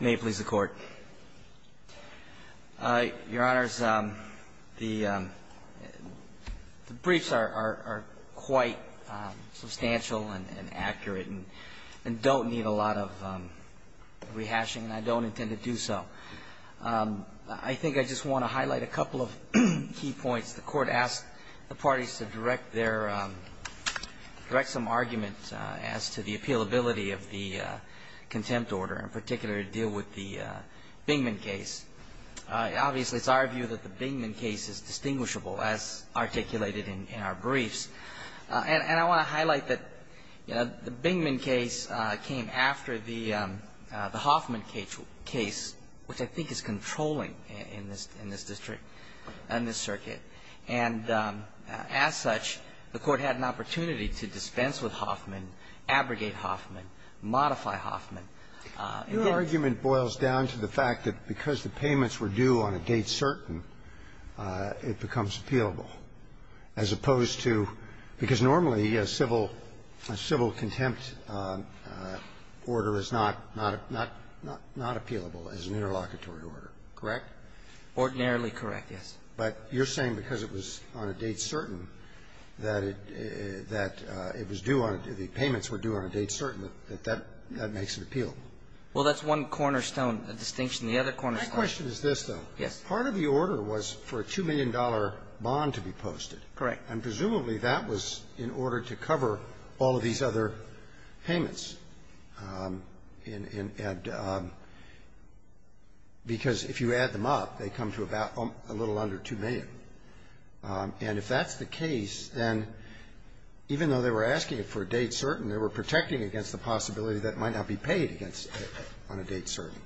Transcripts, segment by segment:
May it please the Court. Your Honors, the briefs are quite substantial and accurate and don't need a lot of rehashing, and I don't intend to do so. I think I just want to highlight a couple of key points. The Court asked the parties to direct their, direct some argument as to the appealability of the contempt order, in particular, to deal with the Bingman case. Obviously, it's our view that the Bingman case is distinguishable, as articulated in our briefs. And I want to highlight that, you know, the Bingman case came after the Hoffman case, which I think is controlling in this district, in this circuit. And as such, the Court had an opportunity to dispense with Hoffman, abrogate Hoffman, modify Hoffman. Your argument boils down to the fact that because the payments were due on a date certain, it becomes appealable, as opposed to – because normally a civil contempt order is not appealable as an interlocutory order, correct? Ordinarily correct, yes. But you're saying because it was on a date certain that it was due on a – the payments were due on a date certain, that that makes it appealable? Well, that's one cornerstone distinction. The other cornerstone – My question is this, though. Yes. Part of the order was for a $2 million bond to be posted. Correct. And presumably, that was in order to cover all of these other payments, and – because if you add them up, they come to about a little under $2 million. And if that's the case, then even though they were asking it for a date certain, they were protecting against the possibility that it might not be paid against it on a date certain.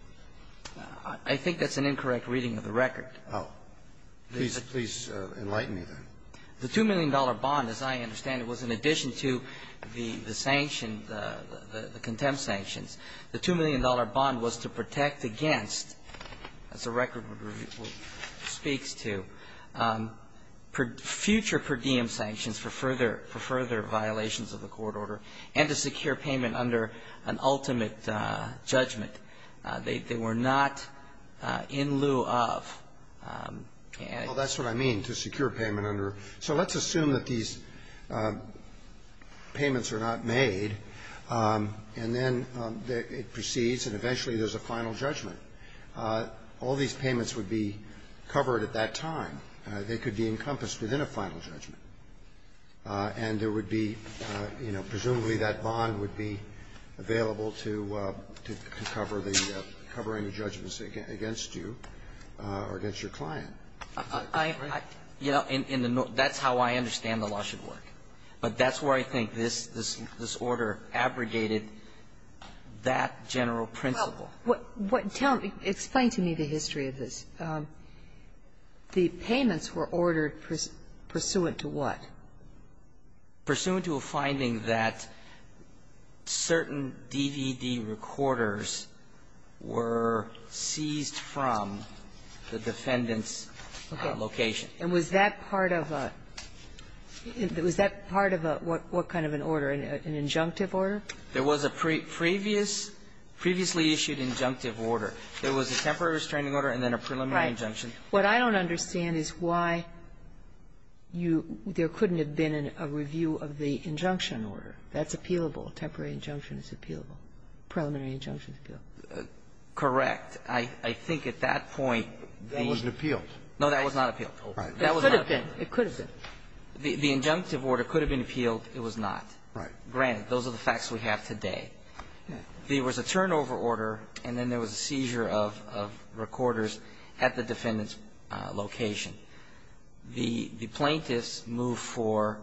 I think that's an incorrect reading of the record. Oh. Please – please enlighten me, then. The $2 million bond, as I understand it, was in addition to the – the sanction – the contempt sanctions. The $2 million bond was to protect against – that's a record we're – speaks to – future per diem sanctions for further – for further violations of the court order, and to secure payment under an ultimate judgment. They – they were not in lieu of. Well, that's what I mean, to secure payment under. So let's assume that these payments are not made, and then it proceeds, and eventually there's a final judgment. All these payments would be covered at that time. They could be encompassed within a final judgment. And there would be, you know, presumably that bond would be available to – to cover the – covering the judgments against you or against your client. I – I – you know, in the – that's how I understand the law should work. But that's where I think this – this order abrogated that general principle. Well, what – what – tell me – explain to me the history of this. The payments were ordered pursuant to what? Pursuant to a finding that certain DVD recorders were seized from the defendant's location. And was that part of a – was that part of a – what kind of an order, an injunctive order? There was a previous – previously issued injunctive order. There was a temporary restraining order and then a preliminary injunction. What I don't understand is why you – there couldn't have been a review of the injunction order. That's appealable. Temporary injunction is appealable. Preliminary injunction is appealable. Correct. I – I think at that point the – That wasn't appealed. No, that was not appealed. Right. That was not appealed. It could have been. The – the injunctive order could have been appealed. It was not. Right. Granted, those are the facts we have today. There was a turnover order and then there was a seizure of – of recorders at the defendant's location. The – the plaintiffs moved for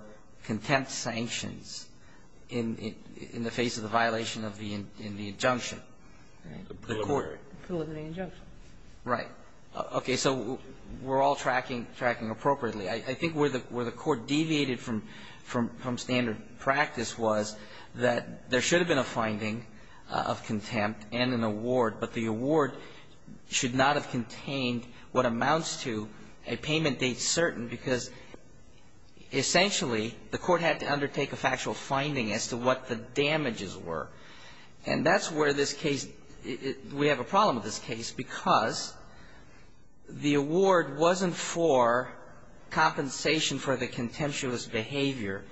contempt sanctions in – in the face of the violation of the – in the injunction. The court – Preliminary injunction. Right. Okay. So we're all tracking – tracking appropriately. I think where the – where the Court deviated from – from standard practice was that there should have been a finding of contempt and an award, but the award should not have contained what amounts to a payment date certain, because essentially the court had to undertake a factual finding as to what the damages were. And that's where this case – we have a problem with this case because the award wasn't for compensation for the contemptuous behavior.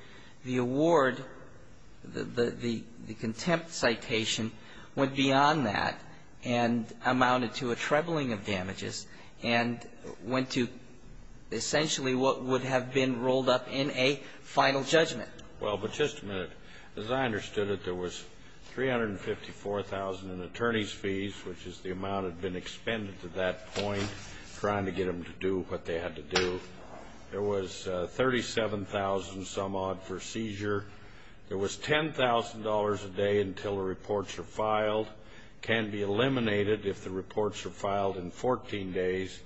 The award – the – the contempt citation went beyond that and amounted to a trebling of damages and went to essentially what would have been rolled up in a final judgment. Well, but just a minute. As I understood it, there was $354,000 in attorney's fees, which is the amount that had been expended to that point, trying to get them to do what they had to do. There was $37,000 some odd for seizure. There was $10,000 a day until the reports were filed. Can be eliminated if the reports are filed in 14 days.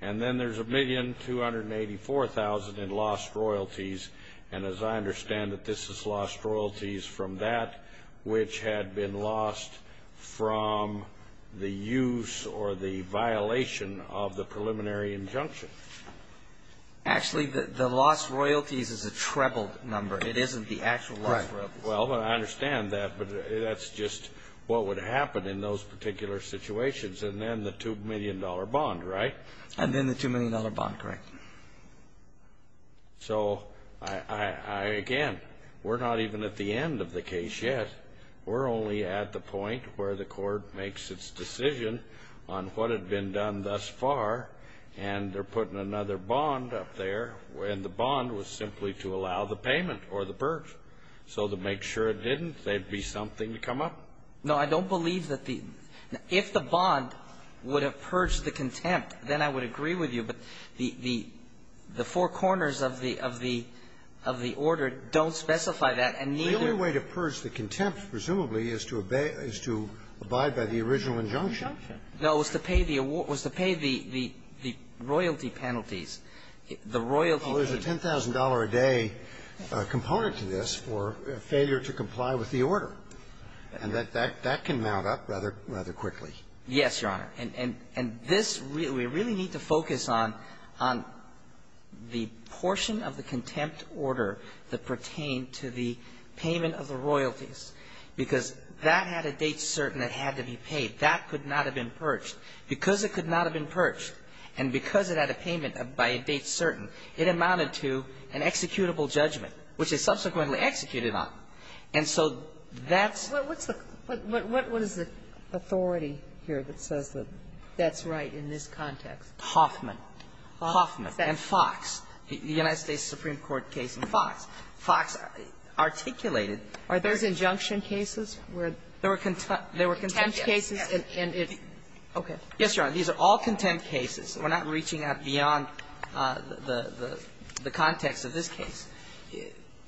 And then there's $1,284,000 in lost royalties. And as I understand it, this is lost royalties from that which had been lost from the use or the violation of the preliminary injunction. Actually, the lost royalties is a treble number. It isn't the actual lost royalties. Right. Well, I understand that. But that's just what would happen in those particular situations. And then the $2 million bond, right? And then the $2 million bond, correct. So I – again, we're not even at the end of the case yet. We're only at the point where the court makes its decision on what had been done thus far, and they're putting another bond up there, and the bond was simply to allow the payment or the purge. So to make sure it didn't, there'd be something to come up. No, I don't believe that the – if the bond would have purged the contempt, then I would agree with you. But the four corners of the order don't specify that, and neither – The only way to purge the contempt, presumably, is to abide by the original injunction. No, it was to pay the royalty penalties. The royalty – Well, there's a $10,000 a day component to this for failure to comply with the order. And that can mount up rather quickly. Yes, Your Honor. And this – we really need to focus on the portion of the contempt order that pertained to the payment of the royalties, because that had a date certain it had to be paid. That could not have been purged. Because it could not have been purged, and because it had a payment by a date certain, it amounted to an executable judgment, which it subsequently executed on. And so that's – What's the – what is the authority here that says that that's right in this context? Hoffman. Hoffman. And Fox. The United States Supreme Court case in Fox. Fox articulated – Are those injunction cases? They were contempt cases. And it's – okay. Yes, Your Honor. These are all contempt cases. We're not reaching out beyond the context of this case.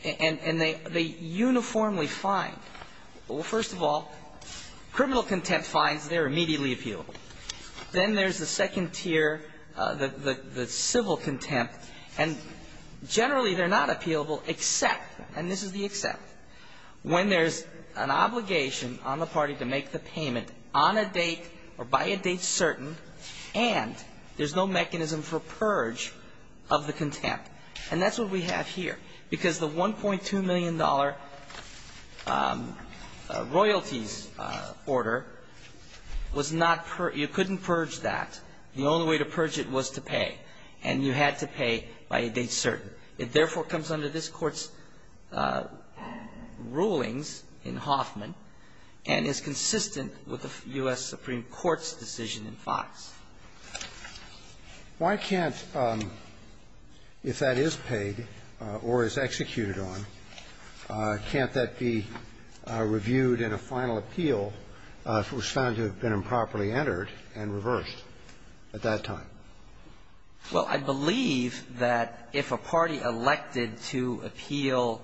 And they uniformly find – well, first of all, criminal contempt fines, they're immediately appealable. Then there's the second tier, the civil contempt. And generally, they're not appealable except – and this is the except – when there's an obligation on the party to make the payment on a date or by a date certain, and there's no mechanism for purge of the contempt. And that's what we have here. Because the $1.2 million royalties order was not – you couldn't purge that. The only way to purge it was to pay. And you had to pay by a date certain. It, therefore, comes under this Court's rulings in Hoffman and is consistent with the U.S. Supreme Court's decision in Fox. Why can't – if that is paid or is executed on, can't that be reviewed in a final appeal, which was found to have been improperly entered and reversed at that time? Well, I believe that if a party elected to appeal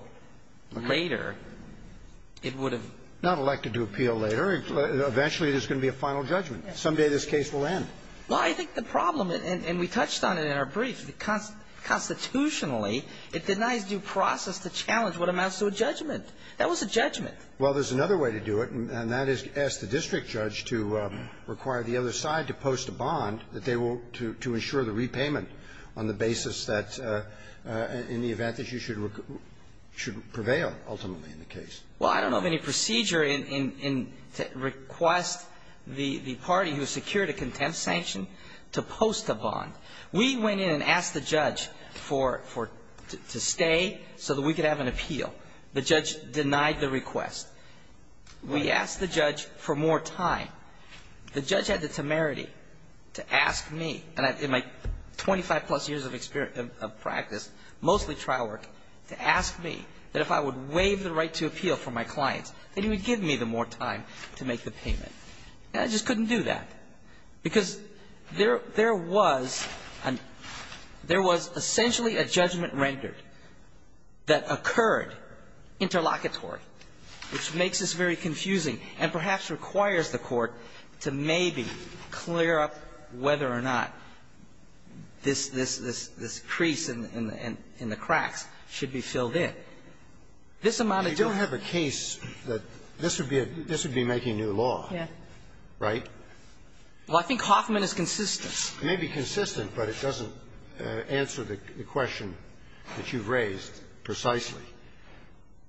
later, it would have – Not elected to appeal later. Eventually, there's going to be a final judgment. Someday this case will end. Well, I think the problem – and we touched on it in our brief. Constitutionally, it denies due process to challenge what amounts to a judgment. That was a judgment. Well, there's another way to do it, and that is to ask the district judge to require the other side to post a bond that they will – to ensure the repayment on the basis that – in the event that you should prevail, ultimately, in the case. Well, I don't know of any procedure in – to request the party who secured a contempt sanction to post a bond. We went in and asked the judge for – to stay so that we could have an appeal. The judge denied the request. We asked the judge for more time. The judge had the temerity to ask me – and in my 25-plus years of experience – of practice, mostly trial work, to ask me that if I would waive the right to appeal for my client, that he would give me the more time to make the payment. And I just couldn't do that because there was – there was essentially a judgment rendered that occurred interlocutory, which makes this very confusing and perhaps requires the Court to maybe clear up whether or not this – this crease in the cracks should be filled in. This amount of time – You don't have a case that this would be a – this would be making new law. Yeah. Right? Well, I think Hoffman is consistent. It may be consistent, but it doesn't answer the question that you've raised precisely.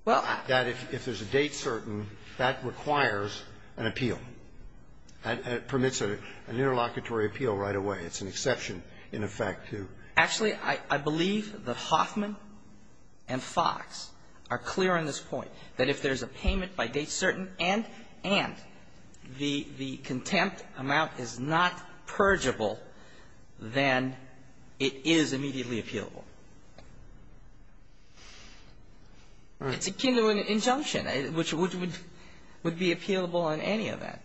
Well – That if there's a date certain, that requires an appeal, and it permits an interlocutory appeal right away. It's an exception, in effect, to – Actually, I believe that Hoffman and Fox are clear on this point, that if there's a payment by date certain and the contempt amount is not purgeable, then it is immediately appealable. It's akin to an injunction, which would – would be appealable in any event.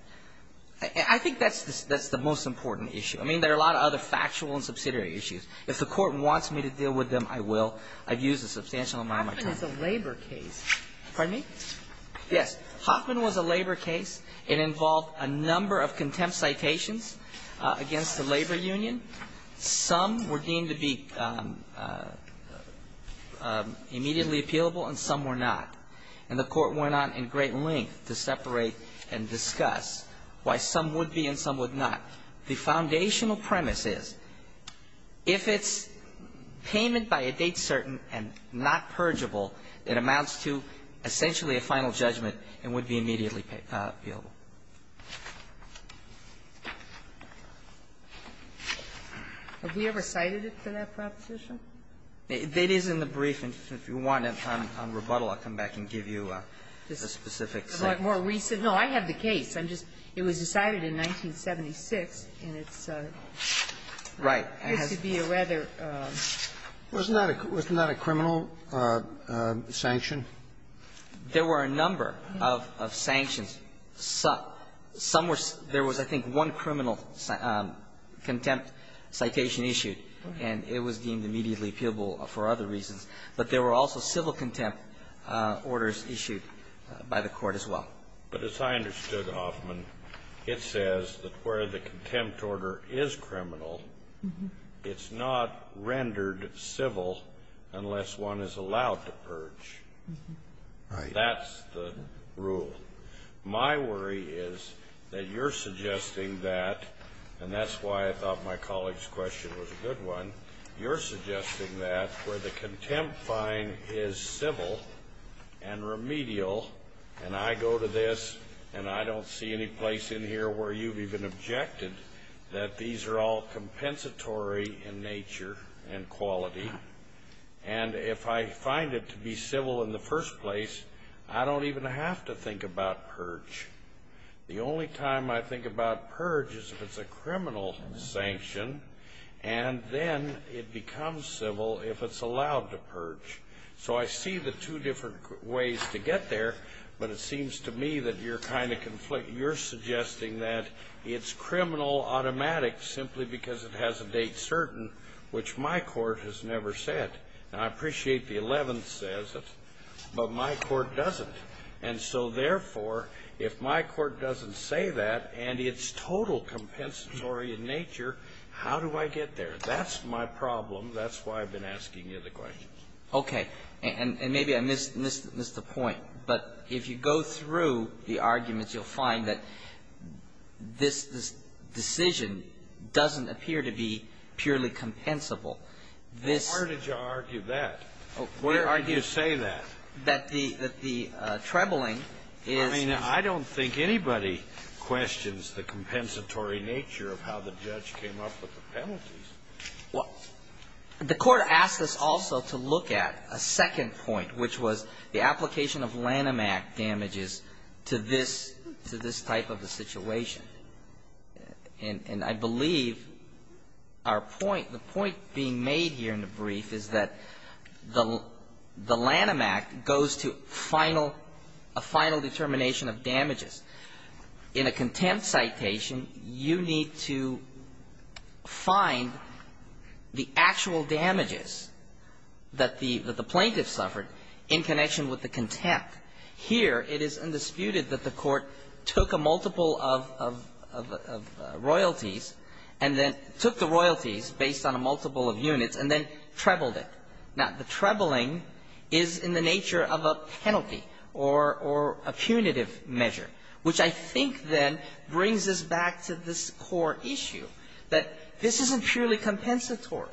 I think that's the – that's the most important issue. I mean, there are a lot of other factual and subsidiary issues. If the Court wants me to deal with them, I will. I've used a substantial amount of my time. Hoffman is a labor case. Pardon me? Yes. Hoffman was a labor case. It involved a number of contempt citations against the labor union. Some were deemed to be immediately appealable, and some were not. And the Court went on in great length to separate and discuss why some would be and some would not. The foundational premise is, if it's payment by a date certain and not purgeable, it amounts to essentially a final judgment and would be immediately appealable. Have we ever cited it for that proposition? It is in the brief, and if you want, on rebuttal, I'll come back and give you a specific sentence. More recent? No, I have the case. I'm just – it was decided in 1976, and it's a – it used to be a rather – Wasn't that a criminal sanction? There were a number of sanctions. Some were – there was, I think, one criminal contempt citation issued, and it was deemed immediately appealable for other reasons. But there were also civil contempt orders issued by the Court as well. But as I understood, Hoffman, it says that where the contempt order is criminal, That's the rule. My worry is that you're suggesting that – and that's why I thought my colleague's question was a good one – you're suggesting that where the contempt fine is civil and remedial, and I go to this, and I don't see any place in here where you've even objected that these are all compensatory in nature and quality, and if I find it to be civil in the first place, I don't even have to think about purge. The only time I think about purge is if it's a criminal sanction, and then it becomes civil if it's allowed to purge. So I see the two different ways to get there, but it seems to me that you're kind of conflicting. You're suggesting that it's criminal automatic simply because it has a date certain, which my court has never said. Now, I appreciate the Eleventh says it, but my court doesn't. And so, therefore, if my court doesn't say that, and it's total compensatory in nature, how do I get there? That's my problem. That's why I've been asking you the questions. Okay. And maybe I missed the point, but if you go through the arguments, you'll find that this decision doesn't appear to be purely compensable. This ---- Well, where did you argue that? Where did you say that? That the trebling is ---- I mean, I don't think anybody questions the compensatory nature of how the judge came up with the penalties. Well, the Court asked us also to look at a second point, which was the application of Lanham Act damages to this type of a situation. And I believe our point, the point being made here in the brief is that the Lanham Act goes to final ---- a final determination of damages. In a contempt citation, you need to find the actual damages that the plaintiff suffered in connection with the contempt. Here, it is undisputed that the Court took a multiple of royalties, and then took the royalties based on a multiple of units, and then trebled it. Now, the trebling is in the nature of a penalty or a punitive measure, which I think then brings us back to this core issue, that this isn't purely compensatory.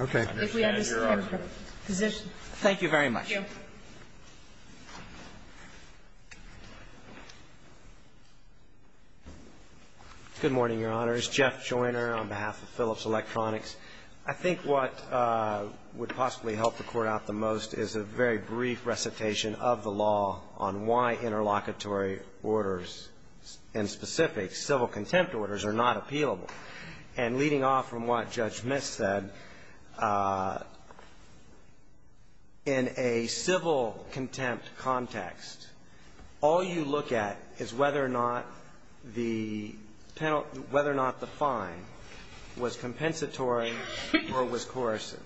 Okay. If we understand your position. Thank you very much. Thank you. Good morning, Your Honors. Jeff Joyner on behalf of Phillips Electronics. I think what would possibly help the Court out the most is a very brief recitation of the law on why interlocutory orders, and specific civil contempt orders, are not In a civil contempt context, all you look at is whether or not the penalty ---- whether or not the fine was compensatory or was coercive.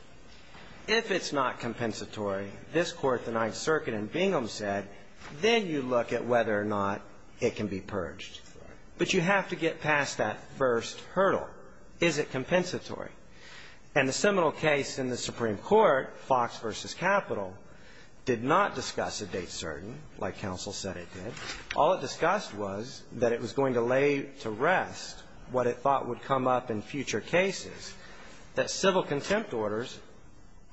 If it's not compensatory, this Court, the Ninth Circuit, and Bingham said, then you look at whether or not it can be purged. But you have to get past that first hurdle. Is it compensatory? And the seminal case in the Supreme Court, Fox v. Capitol, did not discuss a date certain, like counsel said it did. All it discussed was that it was going to lay to rest what it thought would come up in future cases, that civil contempt orders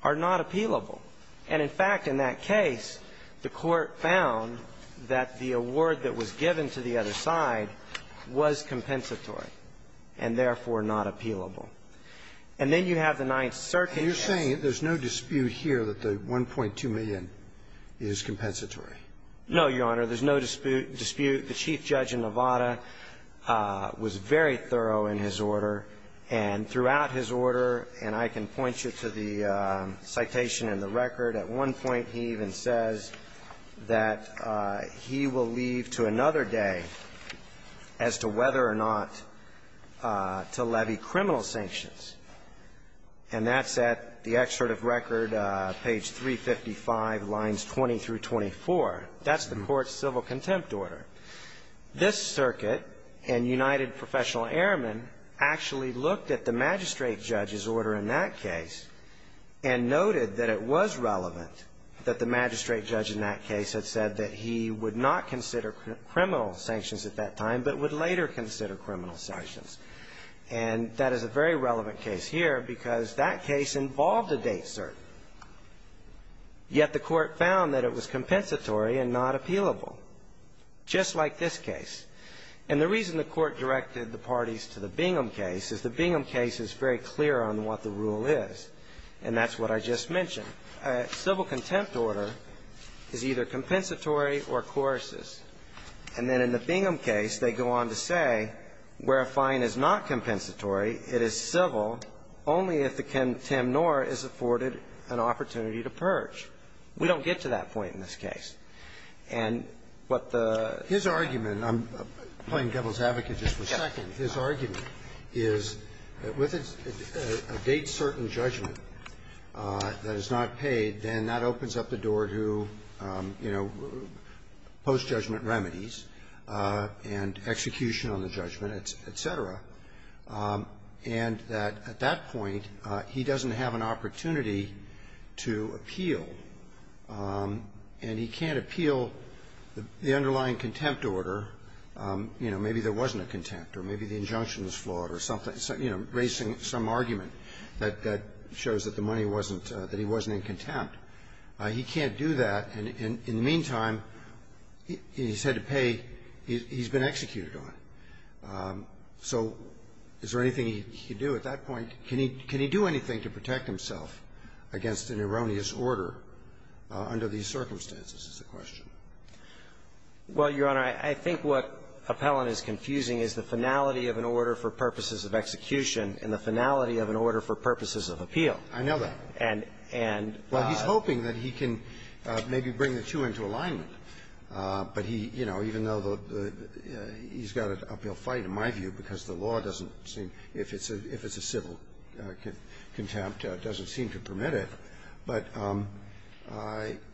are not appealable. And, in fact, in that case, the Court found that the award that was given to the other side was compensatory and, therefore, not appealable. And then you have the Ninth Circuit ---- And you're saying that there's no dispute here that the $1.2 million is compensatory? No, Your Honor. There's no dispute. The Chief Judge in Nevada was very thorough in his order. And throughout his order, and I can point you to the citation in the record, at one point, as to whether or not to levy criminal sanctions. And that's at the excerpt of record, page 355, lines 20 through 24. That's the Court's civil contempt order. This Circuit and United Professional Airmen actually looked at the magistrate judge's order in that case and noted that it was relevant that the magistrate judge in that case had said that he would not consider criminal sanctions at that time, but would later consider criminal sanctions. And that is a very relevant case here because that case involved a date cert, yet the Court found that it was compensatory and not appealable, just like this case. And the reason the Court directed the parties to the Bingham case is the Bingham case is very clear on what the rule is, and that's what I just mentioned. A civil contempt order is either compensatory or coercious. And then in the Bingham case, they go on to say where a fine is not compensatory, it is civil only if the contempt nor is afforded an opportunity to purge. We don't get to that point in this case. And what the ---- His argument, and I'm playing devil's advocate just for a second. His argument is that with a date-certain judgment that is not paid, then that opens up the door to, you know, post-judgment remedies and execution on the judgment, et cetera. And that at that point, he doesn't have an opportunity to appeal, and he can't appeal the underlying contempt order. You know, maybe there wasn't a contempt, or maybe the injunction was flawed or something. You know, raising some argument that shows that the money wasn't ---- that he wasn't in contempt. He can't do that, and in the meantime, he's had to pay ---- he's been executed on it. So is there anything he can do at that point? Can he do anything to protect himself against an erroneous order under these circumstances is the question. Well, Your Honor, I think what Appellant is confusing is the finality of an order for purposes of execution and the finality of an order for purposes of appeal. I know that. And ---- Well, he's hoping that he can maybe bring the two into alignment. But he, you know, even though the ---- he's got an uphill fight, in my view, because the law doesn't seem, if it's a civil contempt, doesn't seem to permit it. But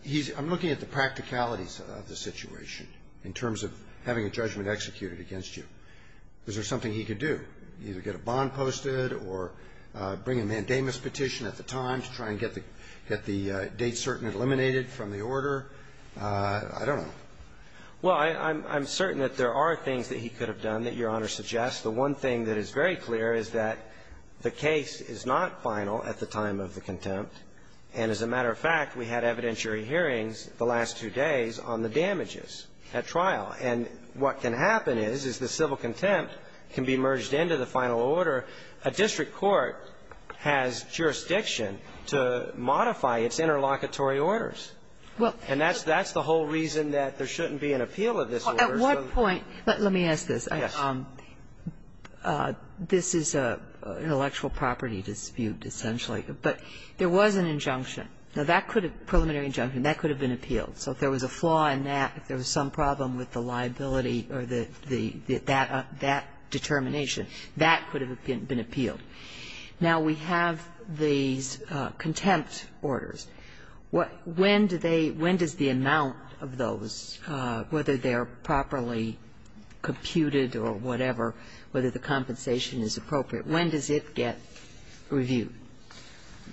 he's ---- I'm looking at the practicalities of the situation in terms of having a judgment executed against you. Is there something he could do, either get a bond posted or bring a mandamus petition at the time to try and get the date certain eliminated from the order? I don't know. Well, I'm certain that there are things that he could have done that Your Honor suggests. The one thing that is very clear is that the case is not final at the time of the contempt. And as a matter of fact, we had evidentiary hearings the last two days on the damages at trial. And what can happen is, is the civil contempt can be merged into the final order. A district court has jurisdiction to modify its interlocutory orders. Well ---- And that's the whole reason that there shouldn't be an appeal of this order. At one point ---- Let me ask this. Yes. This is an intellectual property dispute, essentially. But there was an injunction. Now, that could have been a preliminary injunction. That could have been appealed. So if there was a flaw in that, if there was some problem with the liability or the ---- that determination, that could have been appealed. Now, we have these contempt orders. When do they ---- when does the amount of those, whether they are properly computed or whatever, whether the compensation is appropriate, when does it get reviewed?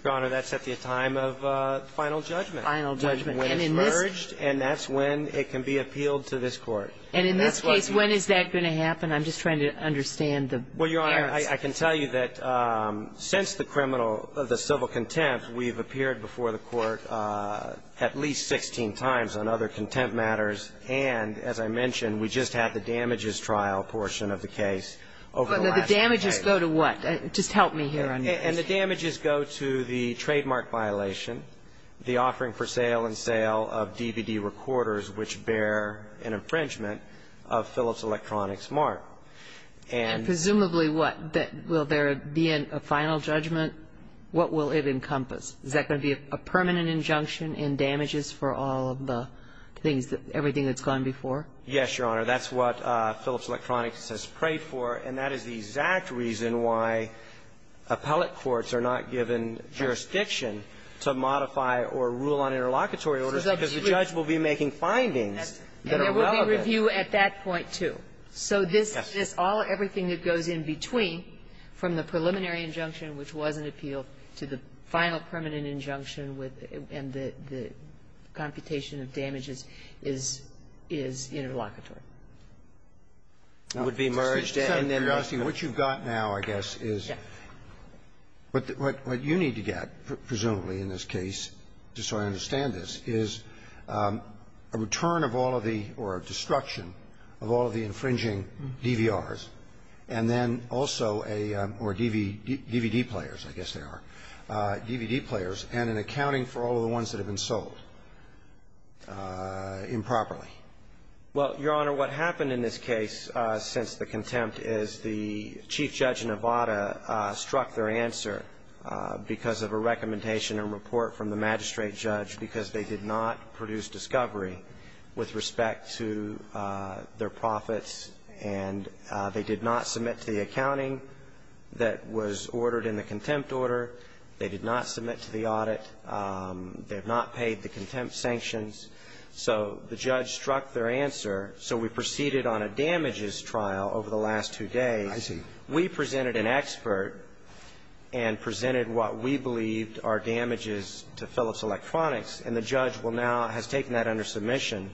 Your Honor, that's at the time of final judgment. Final judgment. And in this ---- When it's merged, and that's when it can be appealed to this Court. And in this case, when is that going to happen? I'm just trying to understand the errors. Well, Your Honor, I can tell you that since the criminal ---- the civil contempt, we've appeared before the Court at least 16 times on other contempt matters. And as I mentioned, we just had the damages trial portion of the case over the last ---- But the damages go to what? Just help me here on this. And the damages go to the trademark violation, the offering for sale and sale of DVD recorders which bear an infringement of Phillips Electronics Mark. And ---- And presumably what? Will there be a final judgment? What will it encompass? Is that going to be a permanent injunction in damages for all of the things that ---- everything that's gone before? Yes, Your Honor. That's what Phillips Electronics has prayed for. And that is the exact reason why appellate courts are not given jurisdiction to modify or rule on interlocutory orders, because the judge will be making findings that are relevant. And there will be review at that point, too. So this is all everything that goes in between from the preliminary injunction, which was an appeal, to the final permanent injunction with the computation of damages is interlocutory. It would be merged and then ---- What you've got now, I guess, is what you need to get, presumably, in this case, just so I understand this, is a return of all of the or a destruction of all of the DVD players, I guess they are, DVD players, and an accounting for all of the ones that have been sold improperly. Well, Your Honor, what happened in this case since the contempt is the Chief Judge in Nevada struck their answer because of a recommendation and report from the magistrate judge because they did not produce discovery with respect to their the accounting that was ordered in the contempt order. They did not submit to the audit. They have not paid the contempt sanctions. So the judge struck their answer. So we proceeded on a damages trial over the last two days. I see. We presented an expert and presented what we believed are damages to Phillips Electronics, and the judge will now ---- has taken that under submission.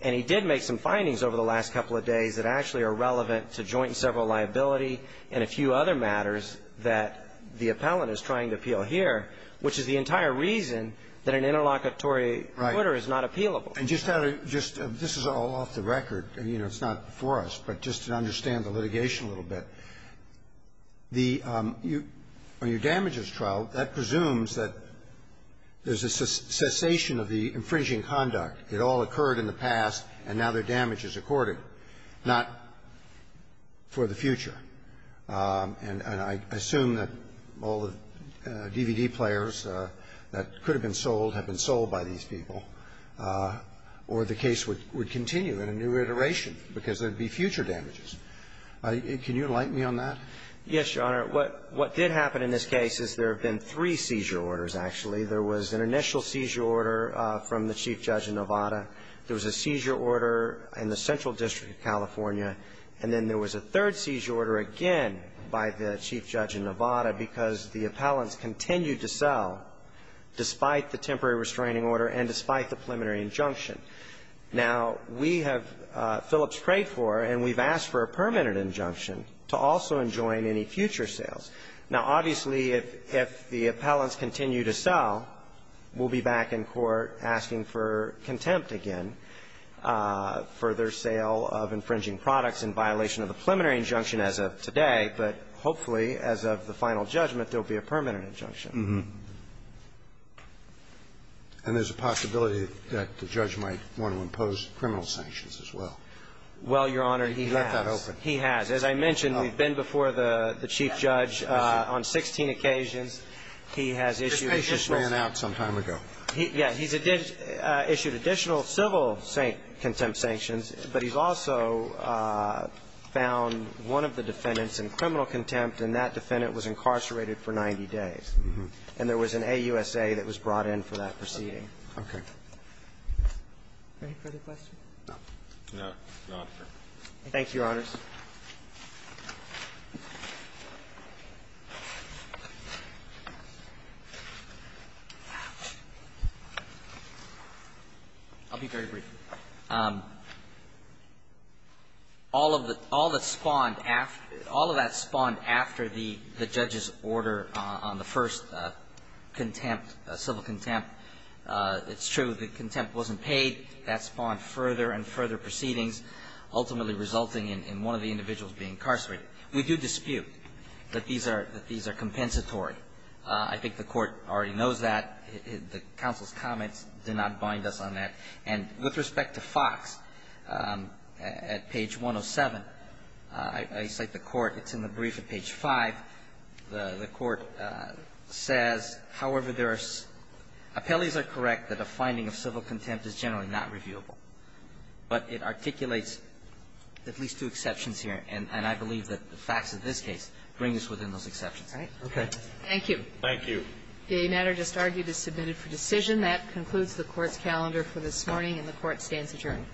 And he did make some findings over the last couple of days that actually are relevant to joint and several liability and a few other matters that the appellant is trying to appeal here, which is the entire reason that an interlocutory order is not appealable. And just out of ---- just this is all off the record, and, you know, it's not before us, but just to understand the litigation a little bit, the ---- on your damages trial, that presumes that there's a cessation of the infringing conduct. It all occurred in the past, and now their damage is accorded. Not for the future. And I assume that all the DVD players that could have been sold have been sold by these people, or the case would continue in a new iteration because there would be future damages. Can you enlighten me on that? Yes, Your Honor. What did happen in this case is there have been three seizure orders, actually. There was an initial seizure order from the Chief Judge in Nevada. There was a seizure order in the Central District of California. And then there was a third seizure order again by the Chief Judge in Nevada because the appellants continued to sell despite the temporary restraining order and despite the preliminary injunction. Now, we have ---- Phillips prayed for, and we've asked for a permanent injunction to also enjoin any future sales. Now, obviously, if the appellants continue to sell, we'll be back in court asking for contempt again for their sale of infringing products in violation of the preliminary injunction as of today. But hopefully, as of the final judgment, there will be a permanent injunction. And there's a possibility that the judge might want to impose criminal sanctions as well. Well, Your Honor, he has. He let that open. He has. As I mentioned, we've been before the Chief Judge on 16 occasions. He has issued ---- This case just ran out some time ago. Yeah. He's issued additional civil contempt sanctions. But he's also found one of the defendants in criminal contempt. And that defendant was incarcerated for 90 days. And there was an AUSA that was brought in for that proceeding. Okay. Any further questions? No. No. No, sir. Thank you, Your Honors. I'll be very brief. All of the ---- all that spawned after the judge's order on the first contempt, civil contempt, it's true that contempt wasn't paid. That spawned further and further proceedings, ultimately resulting in one of the individuals being incarcerated. We do dispute that these are ---- that these are compensatory. I think the Court already knows that. The counsel's comments did not bind us on that. And with respect to Foxx, at page 107, I cite the Court. It's in the brief at page 5. The Court says, however, there are ---- appellees are correct that a finding of civil contempt is generally not reviewable. But it articulates at least two exceptions here. And I believe that the facts of this case bring us within those exceptions. All right? Okay. Thank you. Thank you. The matter just argued is submitted for decision. That concludes the Court's calendar for this morning, and the Court stands adjourned.